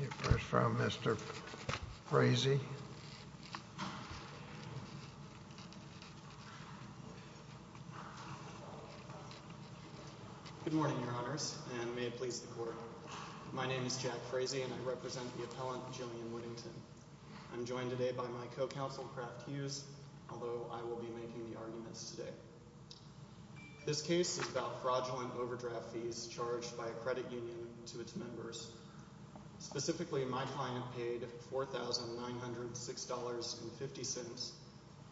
You're first, Mr. Frazee. Good morning, Your Honors, and may it please the Court. My name is Jack Frazee, and I represent the appellant, Jillian Whittington. I'm joined today by my co-counsel, Kraft Hughes, although I will be making the arguments today. This case is about fraudulent overdraft fees charged by a credit union to its members. Specifically, my client paid $4,906.50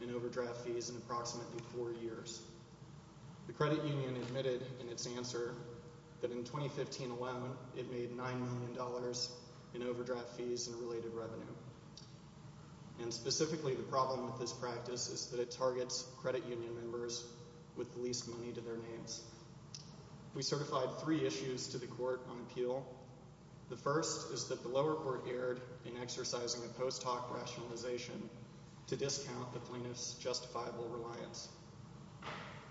in overdraft fees in approximately four years. The credit union admitted in its answer that in 2015 alone, it made $9 million in overdraft fees and related revenue. And specifically, the problem with this practice is that it targets credit union members with the least money to their names. We certified three issues to the Court on appeal. The first is that the lower court erred in exercising a post hoc rationalization to discount the plaintiff's justifiable reliance.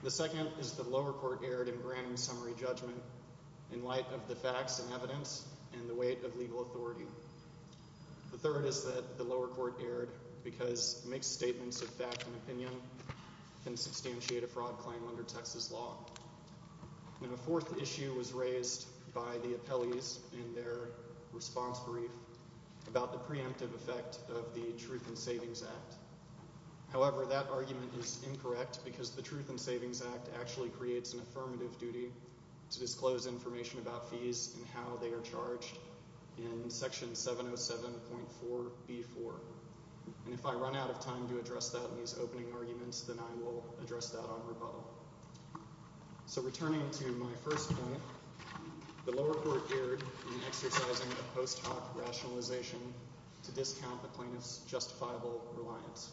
The second is that the lower court erred in granting summary judgment in light of the facts and evidence and the weight of legal authority. The third is that the lower court erred because mixed statements of fact and opinion can substantiate a fraud claim under Texas law. Now, a fourth issue was raised by the appellees in their response brief about the preemptive effect of the Truth in Savings Act. And if I run out of time to address that in these opening arguments, then I will address that on rebuttal. So returning to my first point, the lower court erred in exercising a post hoc rationalization to discount the plaintiff's justifiable reliance.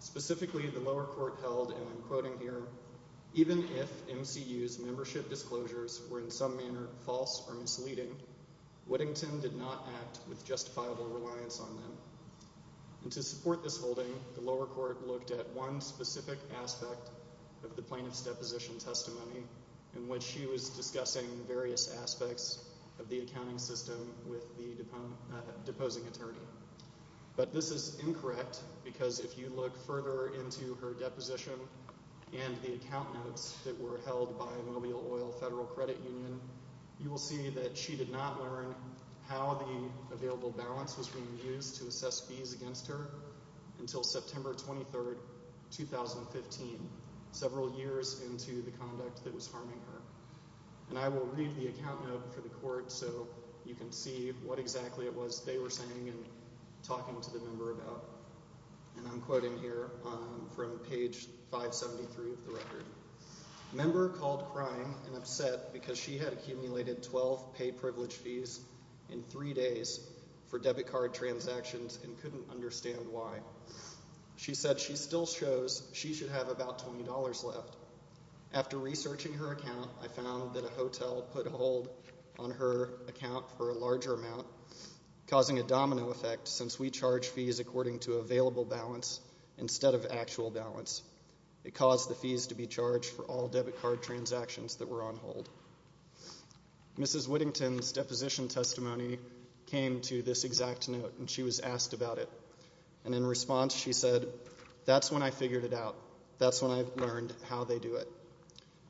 Specifically, the lower court held, and I'm quoting here, even if MCU's membership disclosures were in some manner false or misleading, Whittington did not act with justifiable reliance on them. And to support this holding, the lower court looked at one specific aspect of the plaintiff's deposition testimony in which she was discussing various aspects of the accounting system with the deposing attorney. But this is incorrect because if you look further into her deposition and the account notes that were held by Mobile Oil Federal Credit Union, you will see that she did not learn how the available balance was being used to assess fees against her until September 23, 2015, several years into the conduct that was harming her. And I will read the account note for the court so you can see what exactly it was they were saying and talking to the member about. And I'm quoting here from page 573 of the record. Member called crying and upset because she had accumulated 12 pay privilege fees in three days for debit card transactions and couldn't understand why. She said she still shows she should have about $20 left. After researching her account, I found that a hotel put a hold on her account for a larger amount, causing a domino effect since we charge fees according to available balance instead of actual balance. It caused the fees to be charged for all debit card transactions that were on hold. Mrs. Whittington's deposition testimony came to this exact note, and she was asked about it. And in response, she said, that's when I figured it out. That's when I learned how they do it.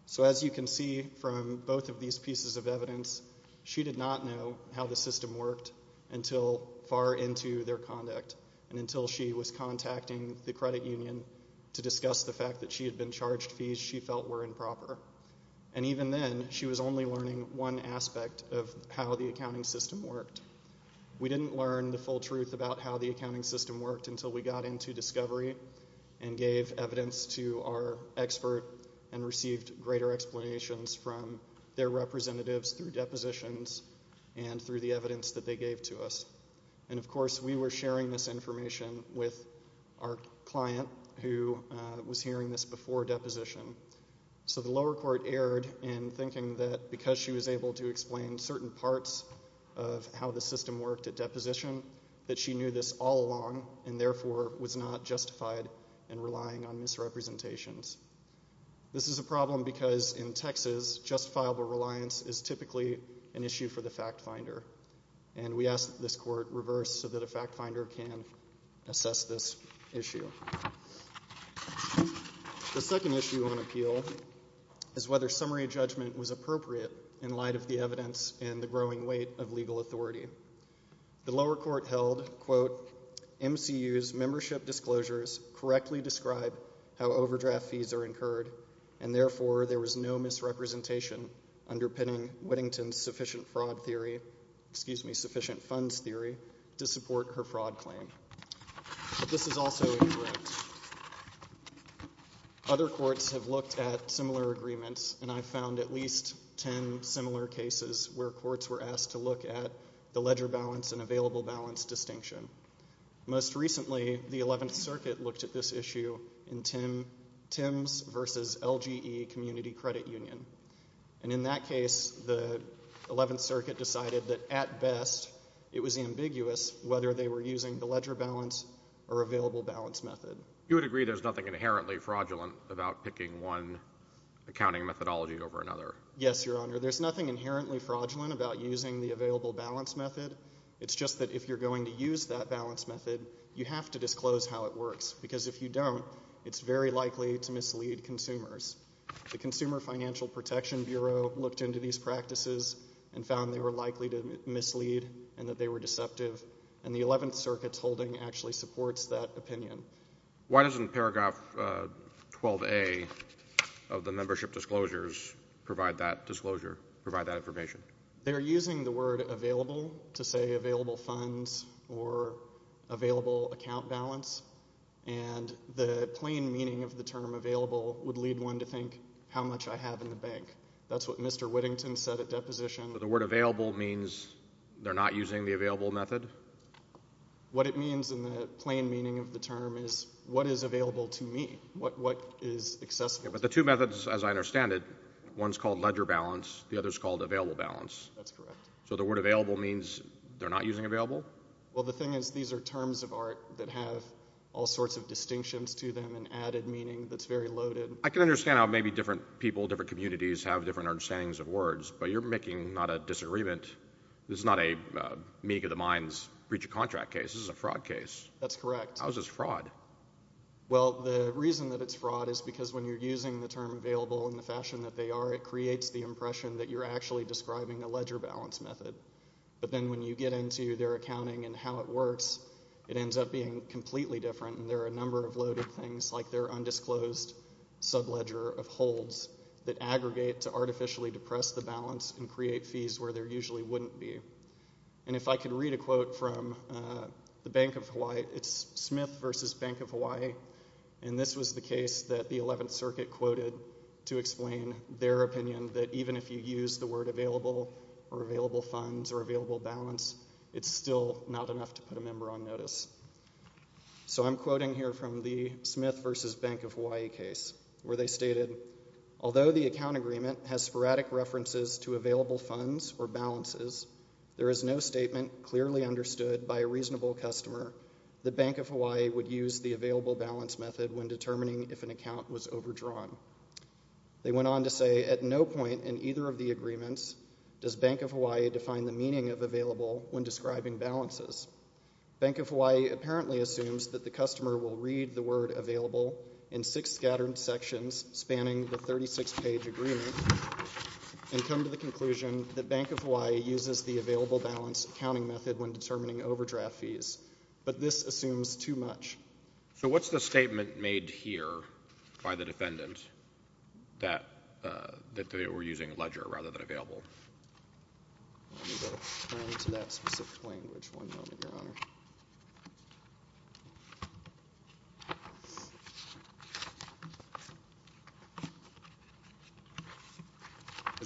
So as you can see from both of these pieces of evidence, she did not know how the system worked until far into their conduct and until she was contacting the credit union to discuss the fact that she had been charged fees she felt were improper. And even then, she was only learning one aspect of how the accounting system worked. We didn't learn the full truth about how the accounting system worked until we got into Discovery and gave evidence to our expert and received greater explanations from their representatives through depositions and through the evidence that they gave to us. And of course, we were sharing this information with our client who was hearing this before deposition. So the lower court erred in thinking that because she was able to explain certain parts of how the system worked at deposition, that she knew this all along and therefore was not justified in relying on misrepresentations. This is a problem because in Texas, justifiable reliance is typically an issue for the fact finder, and we asked that this court reverse so that a fact finder can assess this issue. The second issue on appeal is whether summary judgment was appropriate in light of the evidence and the growing weight of legal authority. The lower court held, quote, MCU's membership disclosures correctly describe how overdraft fees are incurred, and therefore there was no misrepresentation underpinning Whittington's sufficient fraud theory, excuse me, sufficient funds theory, to support her fraud claim. But this is also incorrect. Other courts have looked at similar agreements, and I found at least ten similar cases where courts were asked to look at the ledger balance and available balance distinction. Most recently, the 11th Circuit looked at this issue in Tim's versus LGE Community Credit Union, and in that case, the 11th Circuit decided that at best it was ambiguous whether they were using the ledger balance or available balance method. You would agree there's nothing inherently fraudulent about picking one accounting methodology over another? Yes, Your Honor. There's nothing inherently fraudulent about using the available balance method. It's just that if you're going to use that balance method, you have to disclose how it works, because if you don't, it's very likely to mislead consumers. The Consumer Financial Protection Bureau looked into these practices and found they were likely to mislead and that they were deceptive, and the 11th Circuit's holding actually supports that opinion. Why doesn't paragraph 12A of the membership disclosures provide that disclosure, provide that information? They're using the word available to say available funds or available account balance, and the plain meaning of the term available would lead one to think how much I have in the bank. That's what Mr. Whittington said at deposition. So the word available means they're not using the available method? What it means in the plain meaning of the term is what is available to me, what is accessible to me. But the two methods, as I understand it, one's called ledger balance, the other's called available balance. That's correct. So the word available means they're not using available? Well, the thing is these are terms of art that have all sorts of distinctions to them and added meaning that's very loaded. I can understand how maybe different people, different communities have different understandings of words, but you're making not a disagreement. This is not a meeting of the minds breach of contract case. This is a fraud case. That's correct. How is this fraud? Well, the reason that it's fraud is because when you're using the term available in the fashion that they are, it creates the impression that you're actually describing a ledger balance method. But then when you get into their accounting and how it works, it ends up being completely different, and there are a number of loaded things like their undisclosed subledger of holds that aggregate to artificially depress the balance and create fees where there usually wouldn't be. And if I could read a quote from the Bank of Hawaii, it's Smith versus Bank of Hawaii, and this was the case that the 11th Circuit quoted to explain their opinion that even if you use the word available or available funds or available balance, it's still not enough to put a member on notice. So I'm quoting here from the Smith versus Bank of Hawaii case where they stated, although the account agreement has sporadic references to available funds or balances, there is no statement clearly understood by a reasonable customer the Bank of Hawaii would use the available balance method when determining if an account was overdrawn. They went on to say at no point in either of the agreements does Bank of Hawaii define the meaning of available when describing balances. Bank of Hawaii apparently assumes that the customer will read the word available in six scattered sections spanning the 36-page agreement and come to the conclusion that Bank of Hawaii uses the available balance accounting method when determining overdraft fees, but this assumes too much. So what's the statement made here by the defendant that they were using ledger rather than available? Let me go to that specific language one moment, Your Honor.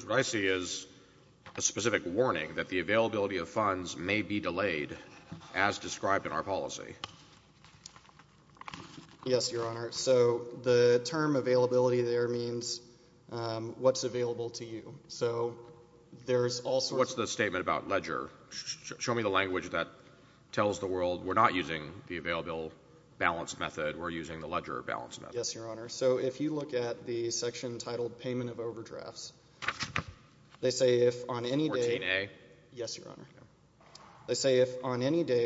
What I see is a specific warning that the availability of funds may be delayed as described in our policy. Yes, Your Honor. So the term availability there means what's available to you. What's the statement about ledger? Show me the language that tells the world we're not using the available balance method, we're using the ledger balance method. Yes, Your Honor. So if you look at the section titled payment of overdrafts, they say if on any day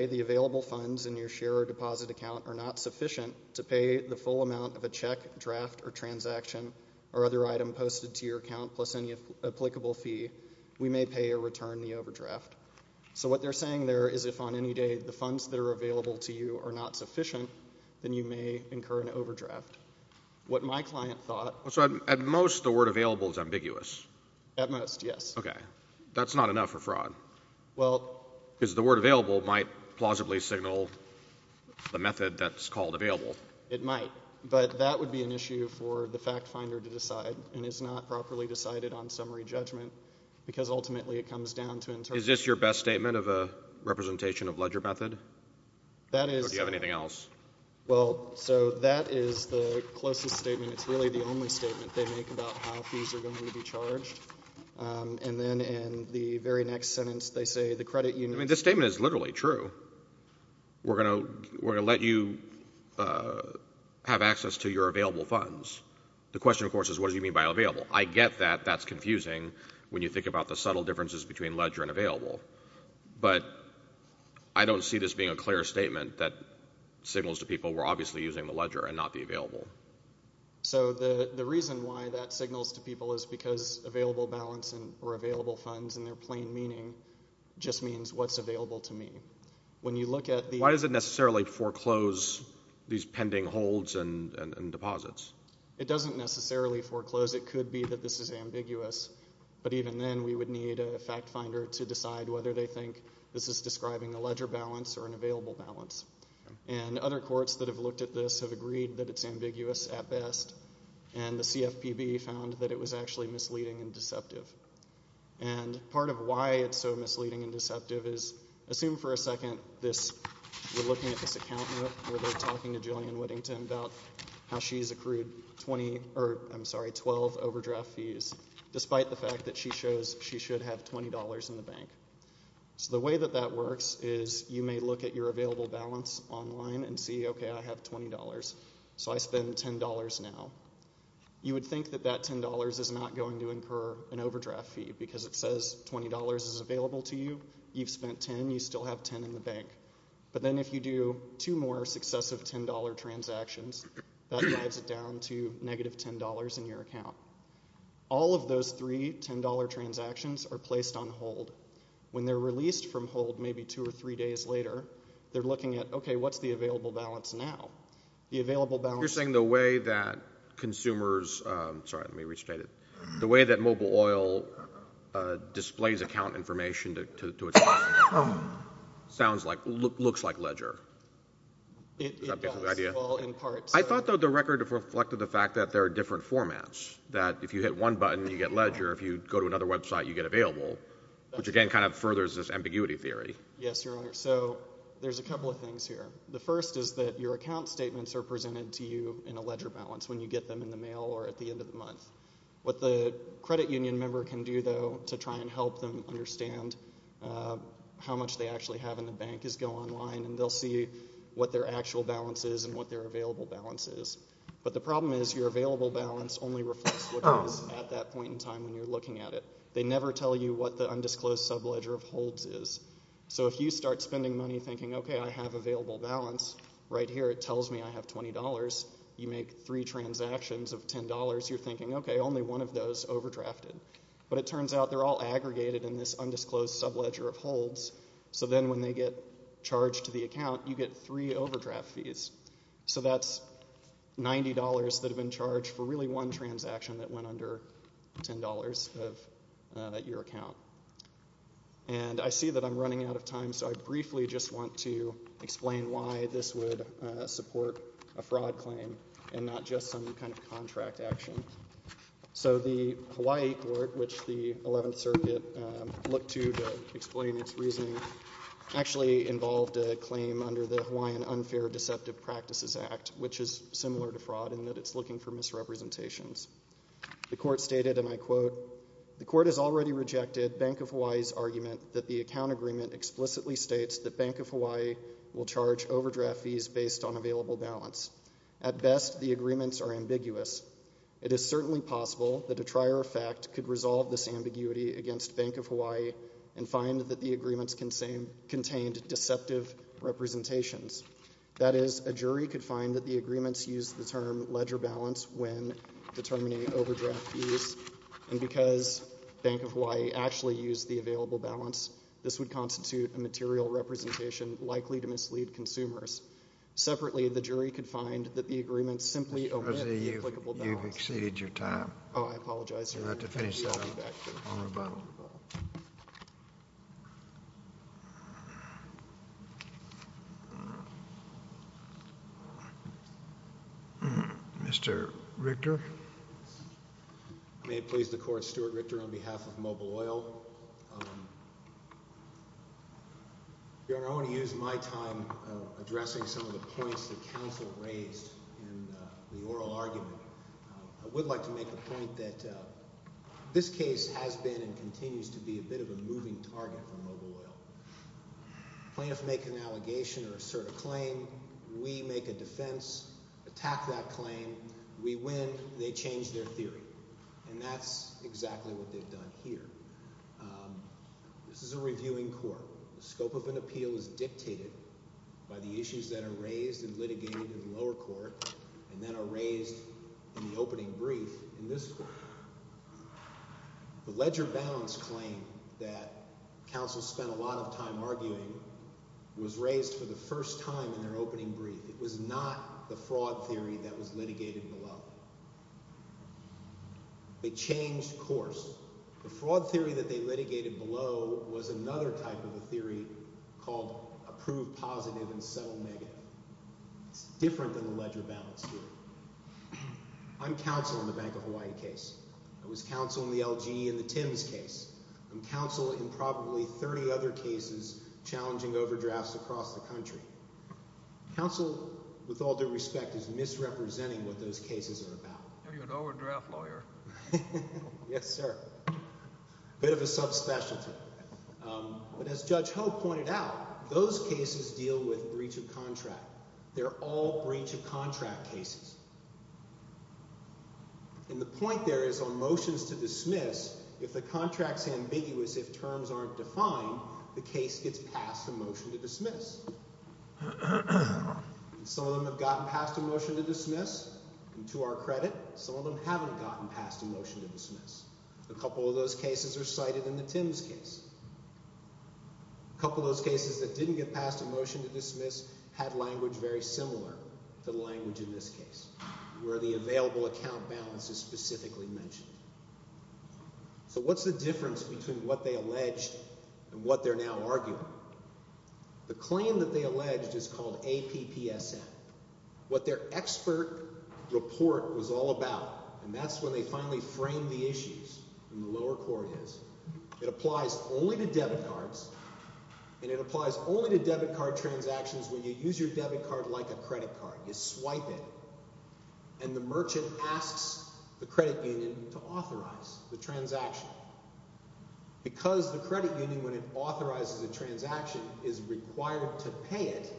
the available funds in your share or deposit account are not sufficient to pay the full amount of a check, draft, or transaction or other item posted to your account plus any applicable fee, we may pay or return the overdraft. So what they're saying there is if on any day the funds that are available to you are not sufficient, then you may incur an overdraft. What my client thought... So at most the word available is ambiguous. At most, yes. Okay. That's not enough for fraud. Well... Because the word available might plausibly signal the method that's called available. It might, but that would be an issue for the fact finder to decide, and it's not properly decided on summary judgment because ultimately it comes down to... Is this your best statement of a representation of ledger method? That is... Or do you have anything else? Well, so that is the closest statement. It's really the only statement they make about how fees are going to be charged. And then in the very next sentence they say the credit unit... I mean, this statement is literally true. We're going to let you have access to your available funds. The question, of course, is what do you mean by available? I get that. That's confusing when you think about the subtle differences between ledger and available. But I don't see this being a clear statement that signals to people we're obviously using the ledger and not the available. So the reason why that signals to people is because available balance or available funds in their plain meaning just means what's available to me. When you look at the... Why does it necessarily foreclose these pending holds and deposits? It doesn't necessarily foreclose. It could be that this is ambiguous, but even then we would need a fact finder to decide whether they think this is describing a ledger balance or an available balance. And other courts that have looked at this have agreed that it's ambiguous at best, and the CFPB found that it was actually misleading and deceptive. And part of why it's so misleading and deceptive is... Assume for a second this... We're looking at this account note where they're talking to Jillian Whittington about how she's accrued 20... Or, I'm sorry, 12 overdraft fees, despite the fact that she shows she should have $20 in the bank. So the way that that works is you may look at your available balance online and see, okay, I have $20, so I spend $10 now. You would think that that $10 is not going to incur an overdraft fee because it says $20 is available to you, you've spent $10, you still have $10 in the bank. But then if you do two more successive $10 transactions, that drives it down to negative $10 in your account. All of those three $10 transactions are placed on hold. When they're released from hold maybe two or three days later, they're looking at, okay, what's the available balance now? The available balance... You're saying the way that consumers... Sorry, let me restate it. The way that mobile oil displays account information to its customers looks like Ledger. It does, in part. I thought, though, the record reflected the fact that there are different formats, that if you hit one button you get Ledger, if you go to another website you get Available, which again kind of furthers this ambiguity theory. Yes, Your Honor. So there's a couple of things here. The first is that your account statements are presented to you in a Ledger balance when you get them in the mail or at the end of the month. What the credit union member can do, though, to try and help them understand how much they actually have in the bank is go online and they'll see what their actual balance is and what their available balance is. But the problem is your available balance only reflects what it is at that point in time when you're looking at it. They never tell you what the undisclosed subledger of holds is. So if you start spending money thinking, okay, I have available balance, right here it tells me I have $20. You make three transactions of $10, you're thinking, okay, only one of those overdrafted. But it turns out they're all aggregated in this undisclosed subledger of holds, so then when they get charged to the account, you get three overdraft fees. So that's $90 that have been charged for really one transaction that went under $10 at your account. And I see that I'm running out of time, so I briefly just want to explain why this would support a fraud claim and not just some kind of contract action. So the Hawaii court, which the 11th Circuit looked to to explain its reasoning, actually involved a claim under the Hawaiian Unfair Deceptive Practices Act, which is similar to fraud in that it's looking for misrepresentations. The court stated, and I quote, the court has already rejected Bank of Hawaii's argument that the account agreement explicitly states that Bank of Hawaii will charge overdraft fees based on available balance. At best, the agreements are ambiguous. It is certainly possible that a trier of fact could resolve this ambiguity against Bank of Hawaii and find that the agreements contained deceptive representations. That is, a jury could find that the agreements use the term ledger balance when determining overdraft fees, and because Bank of Hawaii actually used the available balance, this would constitute a material representation likely to mislead consumers. Separately, the jury could find that the agreements simply omit the applicable balance. You've exceeded your time. Oh, I apologize, Your Honor. You'll have to finish that up on rebuttal. Mr. Richter? May it please the court, Stuart Richter on behalf of Mobile Oil. Your Honor, I want to use my time addressing some of the points that counsel raised in the oral argument. I would like to make the point that this case has been and continues to be a bit of a moving target for Mobile Oil. Plaintiffs make an allegation or assert a claim, we make a defense, attack that claim, we win, they change their theory. And that's exactly what they've done here. This is a reviewing court. The scope of an appeal is dictated by the issues that are raised and litigated in the lower court and that are raised in the opening brief. In this court, the ledger balance claim that counsel spent a lot of time arguing was raised for the first time in their opening brief. It was not the fraud theory that was litigated below. They changed course. The fraud theory that they litigated below was another type of a theory called approved positive and settled negative. It's different than the ledger balance theory. I'm counsel in the Bank of Hawaii case. I was counsel in the LG and the Tims case. I'm counsel in probably 30 other cases challenging overdrafts across the country. Counsel, with all due respect, is misrepresenting what those cases are about. You're an overdraft lawyer. Yes, sir. Bit of a subspecialty. But as Judge Ho pointed out, those cases deal with breach of contract. They're all breach of contract cases. And the point there is on motions to dismiss, if the contract's ambiguous, if terms aren't defined, the case gets passed a motion to dismiss. Some of them have gotten passed a motion to dismiss, and to our credit, some of them haven't gotten passed a motion to dismiss. A couple of those cases are cited in the Tims case. A couple of those cases that didn't get passed a motion to dismiss had language very similar to the language in this case, where the available account balance is specifically mentioned. So what's the difference between what they alleged and what they're now arguing? The claim that they alleged is called APPSM. What their expert report was all about, and that's when they finally framed the issues in the lower court is, it applies only to debit cards, and it applies only to debit card transactions when you use your debit card like a credit card. You swipe it, and the merchant asks the credit union to authorize the transaction. Because the credit union, when it authorizes a transaction, is required to pay it,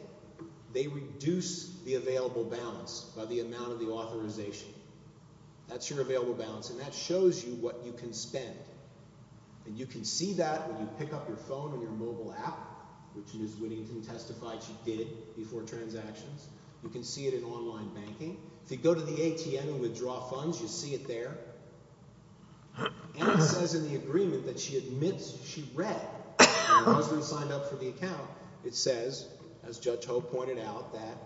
they reduce the available balance by the amount of the authorization. That's your available balance, and that shows you what you can spend. And you can see that when you pick up your phone and your mobile app, which Ms. Whittington testified she did before transactions. You can see it in online banking. If you go to the ATM and withdraw funds, you see it there. And it says in the agreement that she admits she read, and it wasn't signed up for the account. It says, as Judge Ho pointed out, that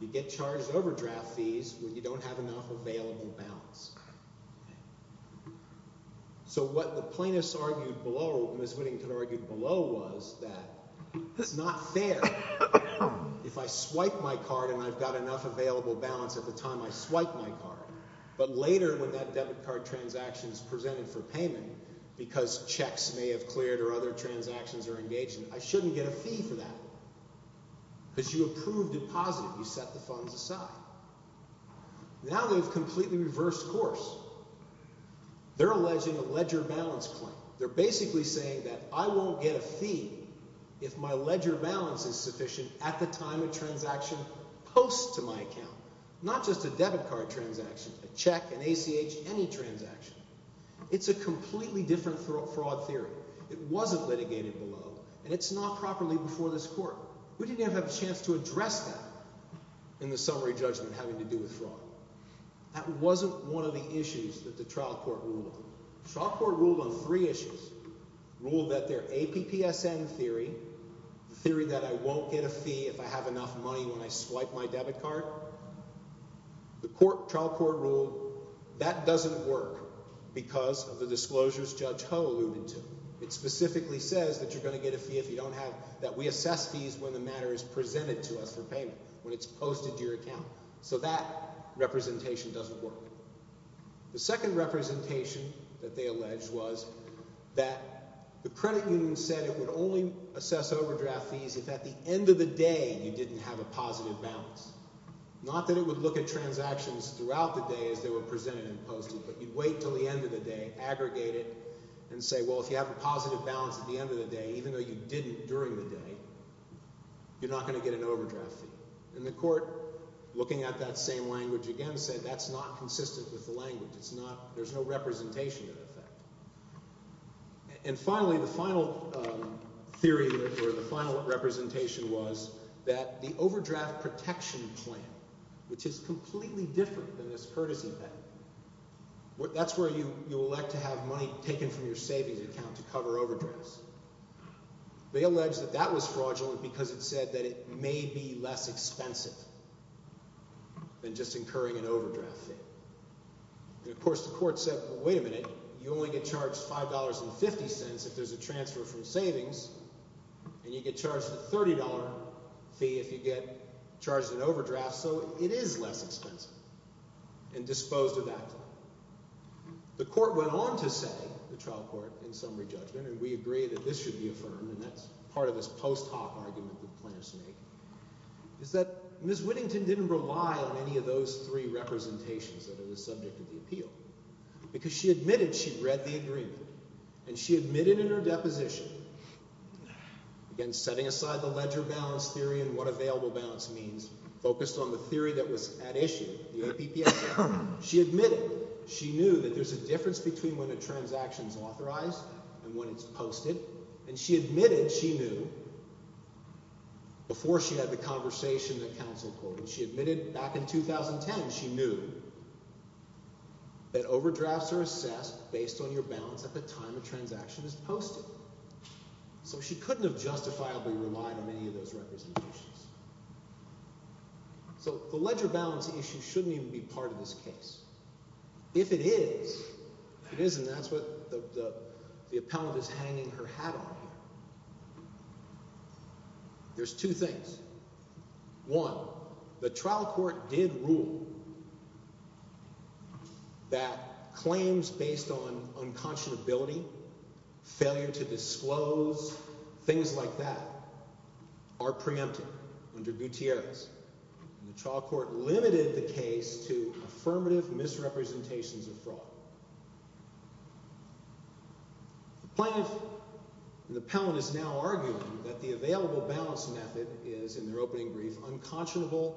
you get charged overdraft fees when you don't have enough available balance. So what the plaintiffs argued below, what Ms. Whittington argued below, was that it's not fair if I swipe my card and I've got enough available balance at the time I swipe my card. But later, when that debit card transaction is presented for payment, because checks may have cleared or other transactions are engaged, I shouldn't get a fee for that. Because you approved it positive. You set the funds aside. Now they've completely reversed course. They're alleging a ledger balance claim. They're basically saying that I won't get a fee if my ledger balance is sufficient at the time a transaction posts to my account. Not just a debit card transaction, a check, an ACH, any transaction. It's a completely different fraud theory. It wasn't litigated below, and it's not properly before this court. We didn't even have a chance to address that in the summary judgment having to do with fraud. That wasn't one of the issues that the trial court ruled on. The trial court ruled on three issues. It ruled that their APPSN theory, the theory that I won't get a fee if I have enough money when I swipe my debit card, the trial court ruled that doesn't work because of the disclosures Judge Ho alluded to. It specifically says that you're going to get a fee if you don't have, that we assess fees when the matter is presented to us for payment, when it's posted to your account. So that representation doesn't work. The second representation that they alleged was that the credit union said it would only assess overdraft fees if at the end of the day you didn't have a positive balance. Not that it would look at transactions throughout the day as they were presented and posted, but you'd wait until the end of the day, aggregate it, and say, well, if you have a positive balance at the end of the day, even though you didn't during the day, you're not going to get an overdraft fee. And the court, looking at that same language again, said that's not consistent with the language. There's no representation of that. And finally, the final theory or the final representation was that the overdraft protection plan, which is completely different than this courtesy plan, that's where you elect to have money taken from your savings account to cover overdrafts. They alleged that that was fraudulent because it said that it may be less expensive than just incurring an overdraft fee. And of course the court said, well, wait a minute. You only get charged $5.50 if there's a transfer from savings, and you get charged a $30 fee if you get charged an overdraft, so it is less expensive and disposed of that time. The court went on to say, the trial court, in summary judgment, and we agree that this should be affirmed, and that's part of this post hoc argument that the plaintiffs make, is that Ms. Whittington didn't rely on any of those three representations that are the subject of the appeal because she admitted she'd read the agreement, and she admitted in her deposition, again, setting aside the ledger balance theory and what available balance means, focused on the theory that was at issue, the APPS. She admitted she knew that there's a difference between when a transaction is authorized and when it's posted, and she admitted she knew, before she had the conversation that counsel called, when she admitted back in 2010 she knew that overdrafts are assessed based on your balance at the time a transaction is posted, so she couldn't have justifiably relied on any of those representations. So the ledger balance issue shouldn't even be part of this case. If it is, if it isn't, that's what the appellant is hanging her hat on here. There's two things. One, the trial court did rule that claims based on unconscionability, failure to disclose, things like that, are preempted under Gutierrez, and the trial court limited the case to affirmative misrepresentations of fraud. The plaintiff and the appellant is now arguing that the available balance method is, in their opening brief, unconscionable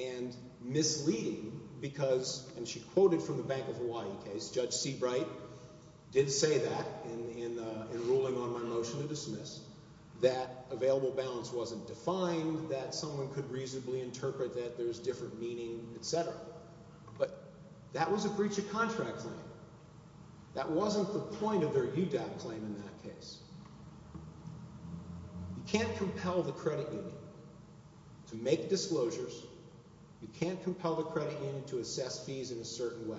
and misleading, because, and she quoted from the Bank of Hawaii case, Judge Seabright did say that in ruling on my motion to dismiss, that available balance wasn't defined, that someone could reasonably interpret that there's different meaning, etc. But that was a breach of contract claim. That wasn't the point of their UDAP claim in that case. You can't compel the credit union to make disclosures. You can't compel the credit union to assess fees in a certain way.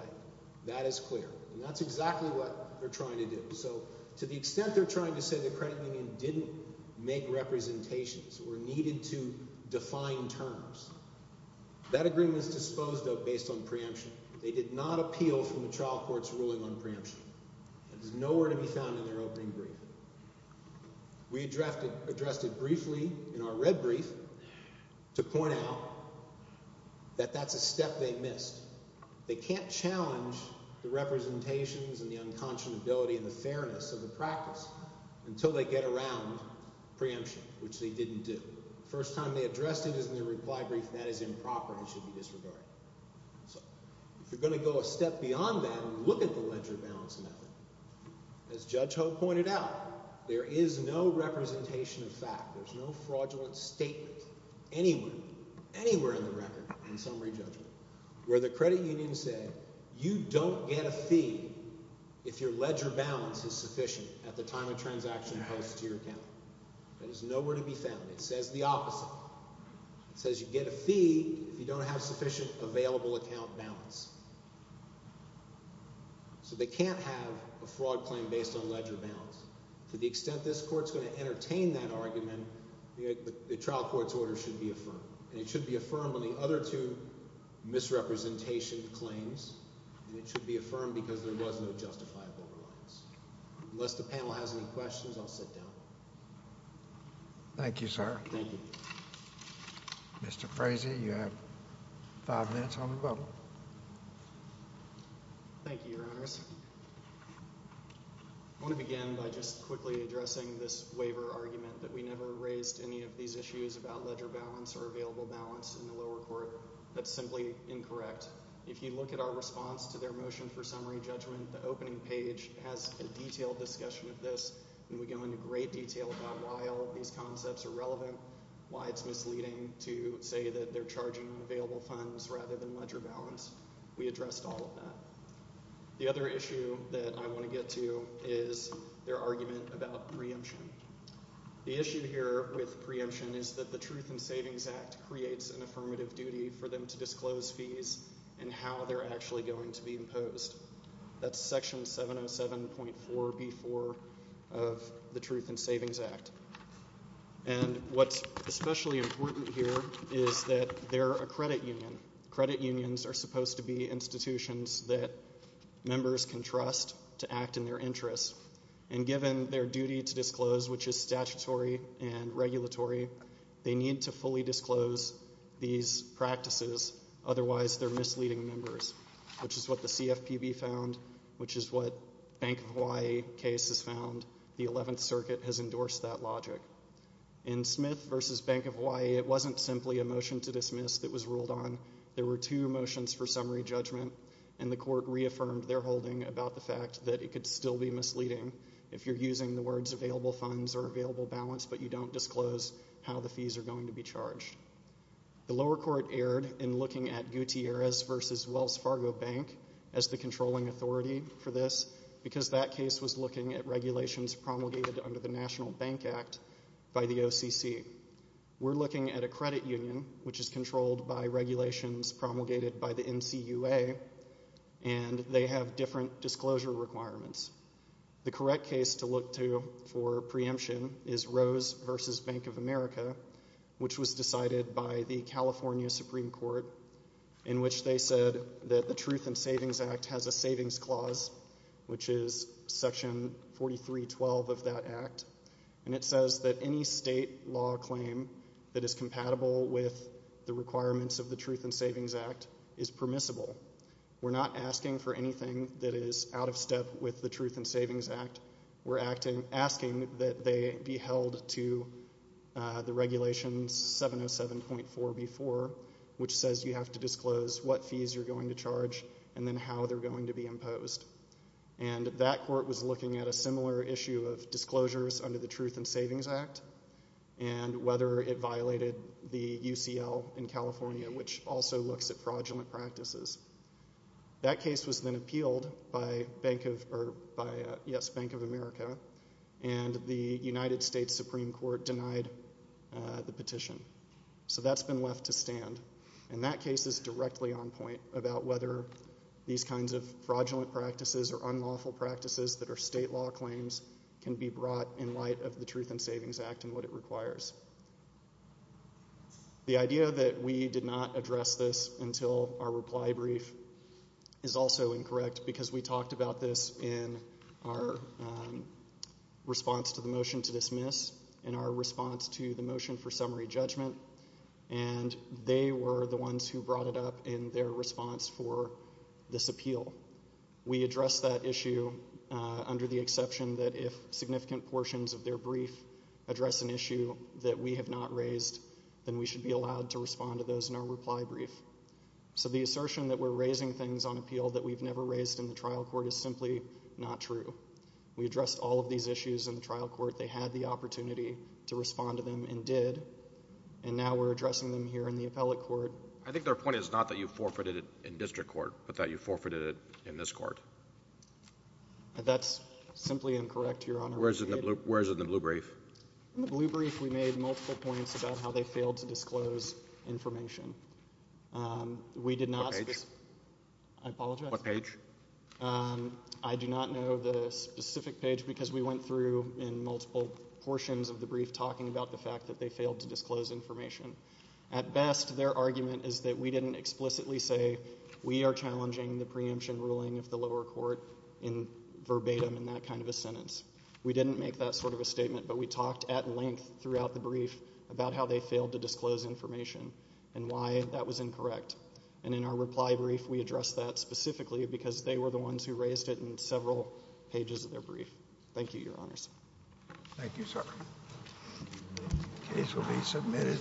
That is clear, and that's exactly what they're trying to do. So to the extent they're trying to say the credit union didn't make representations or needed to define terms, that agreement is disposed of based on preemption. They did not appeal from the trial court's ruling on preemption. That is nowhere to be found in their opening brief. We addressed it briefly in our red brief to point out that that's a step they missed. They can't challenge the representations and the unconscionability and the fairness of the practice until they get around preemption, which they didn't do. The first time they addressed it is in their reply brief, and that is improper and should be disregarded. So if you're going to go a step beyond that, look at the ledger balance method. As Judge Ho pointed out, there is no representation of fact. There's no fraudulent statement anywhere, anywhere in the record, in summary judgment, where the credit union said, you don't get a fee if your ledger balance is sufficient at the time a transaction occurs to your account. That is nowhere to be found. It says the opposite. It says you get a fee if you don't have sufficient available account balance. So they can't have a fraud claim based on ledger balance. To the extent this court's going to entertain that argument, the trial court's order should be affirmed, and it should be affirmed on the other two misrepresentation claims, and it should be affirmed because there was no justifiable reliance. Unless the panel has any questions, I'll sit down. Thank you, sir. Thank you. Mr. Frazee, you have five minutes on the bubble. Thank you, Your Honors. I want to begin by just quickly addressing this waiver argument that we never raised any of these issues about ledger balance or available balance in the lower court. That's simply incorrect. If you look at our response to their motion for summary judgment, the opening page has a detailed discussion of this, and we go into great detail about why all of these concepts are relevant, why it's misleading to say that they're charging on available funds rather than ledger balance. We addressed all of that. The other issue that I want to get to is their argument about preemption. The issue here with preemption is that the Truth in Savings Act creates an affirmative duty for them to disclose fees and how they're actually going to be imposed. That's Section 707.4b-4 of the Truth in Savings Act. And what's especially important here is that they're a credit union. Credit unions are supposed to be institutions that members can trust to act in their interests, and given their duty to disclose, which is statutory and regulatory, they need to fully disclose these practices, otherwise they're misleading members, which is what the CFPB found, which is what Bank of Hawaii case has found. The 11th Circuit has endorsed that logic. In Smith v. Bank of Hawaii, it wasn't simply a motion to dismiss that was ruled on. There were two motions for summary judgment, and the court reaffirmed their holding about the fact that it could still be misleading if you're using the words available funds or available balance, The lower court erred in looking at Gutierrez v. Wells Fargo Bank as the controlling authority for this because that case was looking at regulations promulgated under the National Bank Act by the OCC. We're looking at a credit union which is controlled by regulations promulgated by the NCUA, and they have different disclosure requirements. The correct case to look to for preemption is Rose v. Bank of America, which was decided by the California Supreme Court, in which they said that the Truth and Savings Act has a savings clause, which is Section 4312 of that act, and it says that any state law claim that is compatible with the requirements of the Truth and Savings Act is permissible. We're not asking for anything that is out of step with the Truth and Savings Act. We're asking that they be held to the regulations 707.4b.4, which says you have to disclose what fees you're going to charge and then how they're going to be imposed, and that court was looking at a similar issue of disclosures under the Truth and Savings Act and whether it violated the UCL in California, which also looks at fraudulent practices. That case was then appealed by Bank of America, and the United States Supreme Court denied the petition. So that's been left to stand, and that case is directly on point about whether these kinds of fraudulent practices or unlawful practices that are state law claims can be brought in light of the Truth and Savings Act and what it requires. The idea that we did not address this until our reply brief is also incorrect because we talked about this in our response to the motion to dismiss, in our response to the motion for summary judgment, and they were the ones who brought it up in their response for this appeal. We addressed that issue under the exception that if significant portions of their brief address an issue that we have not raised, then we should be allowed to respond to those in our reply brief. So the assertion that we're raising things on appeal that we've never raised in the trial court is simply not true. We addressed all of these issues in the trial court. They had the opportunity to respond to them and did, and now we're addressing them here in the appellate court. I think their point is not that you forfeited it in district court but that you forfeited it in this court. That's simply incorrect, Your Honor. Where is it in the blue brief? In the blue brief, we made multiple points about how they failed to disclose information. We did not. What page? I apologize. What page? I do not know the specific page because we went through in multiple portions of the brief talking about the fact that they failed to disclose information. At best, their argument is that we didn't explicitly say, we are challenging the preemption ruling of the lower court in verbatim in that kind of a sentence. We didn't make that sort of a statement, but we talked at length throughout the brief about how they failed to disclose information and why that was incorrect. And in our reply brief, we addressed that specifically because they were the ones who raised it in several pages of their brief. Thank you, Your Honors. Thank you, sir. The case will be submitted.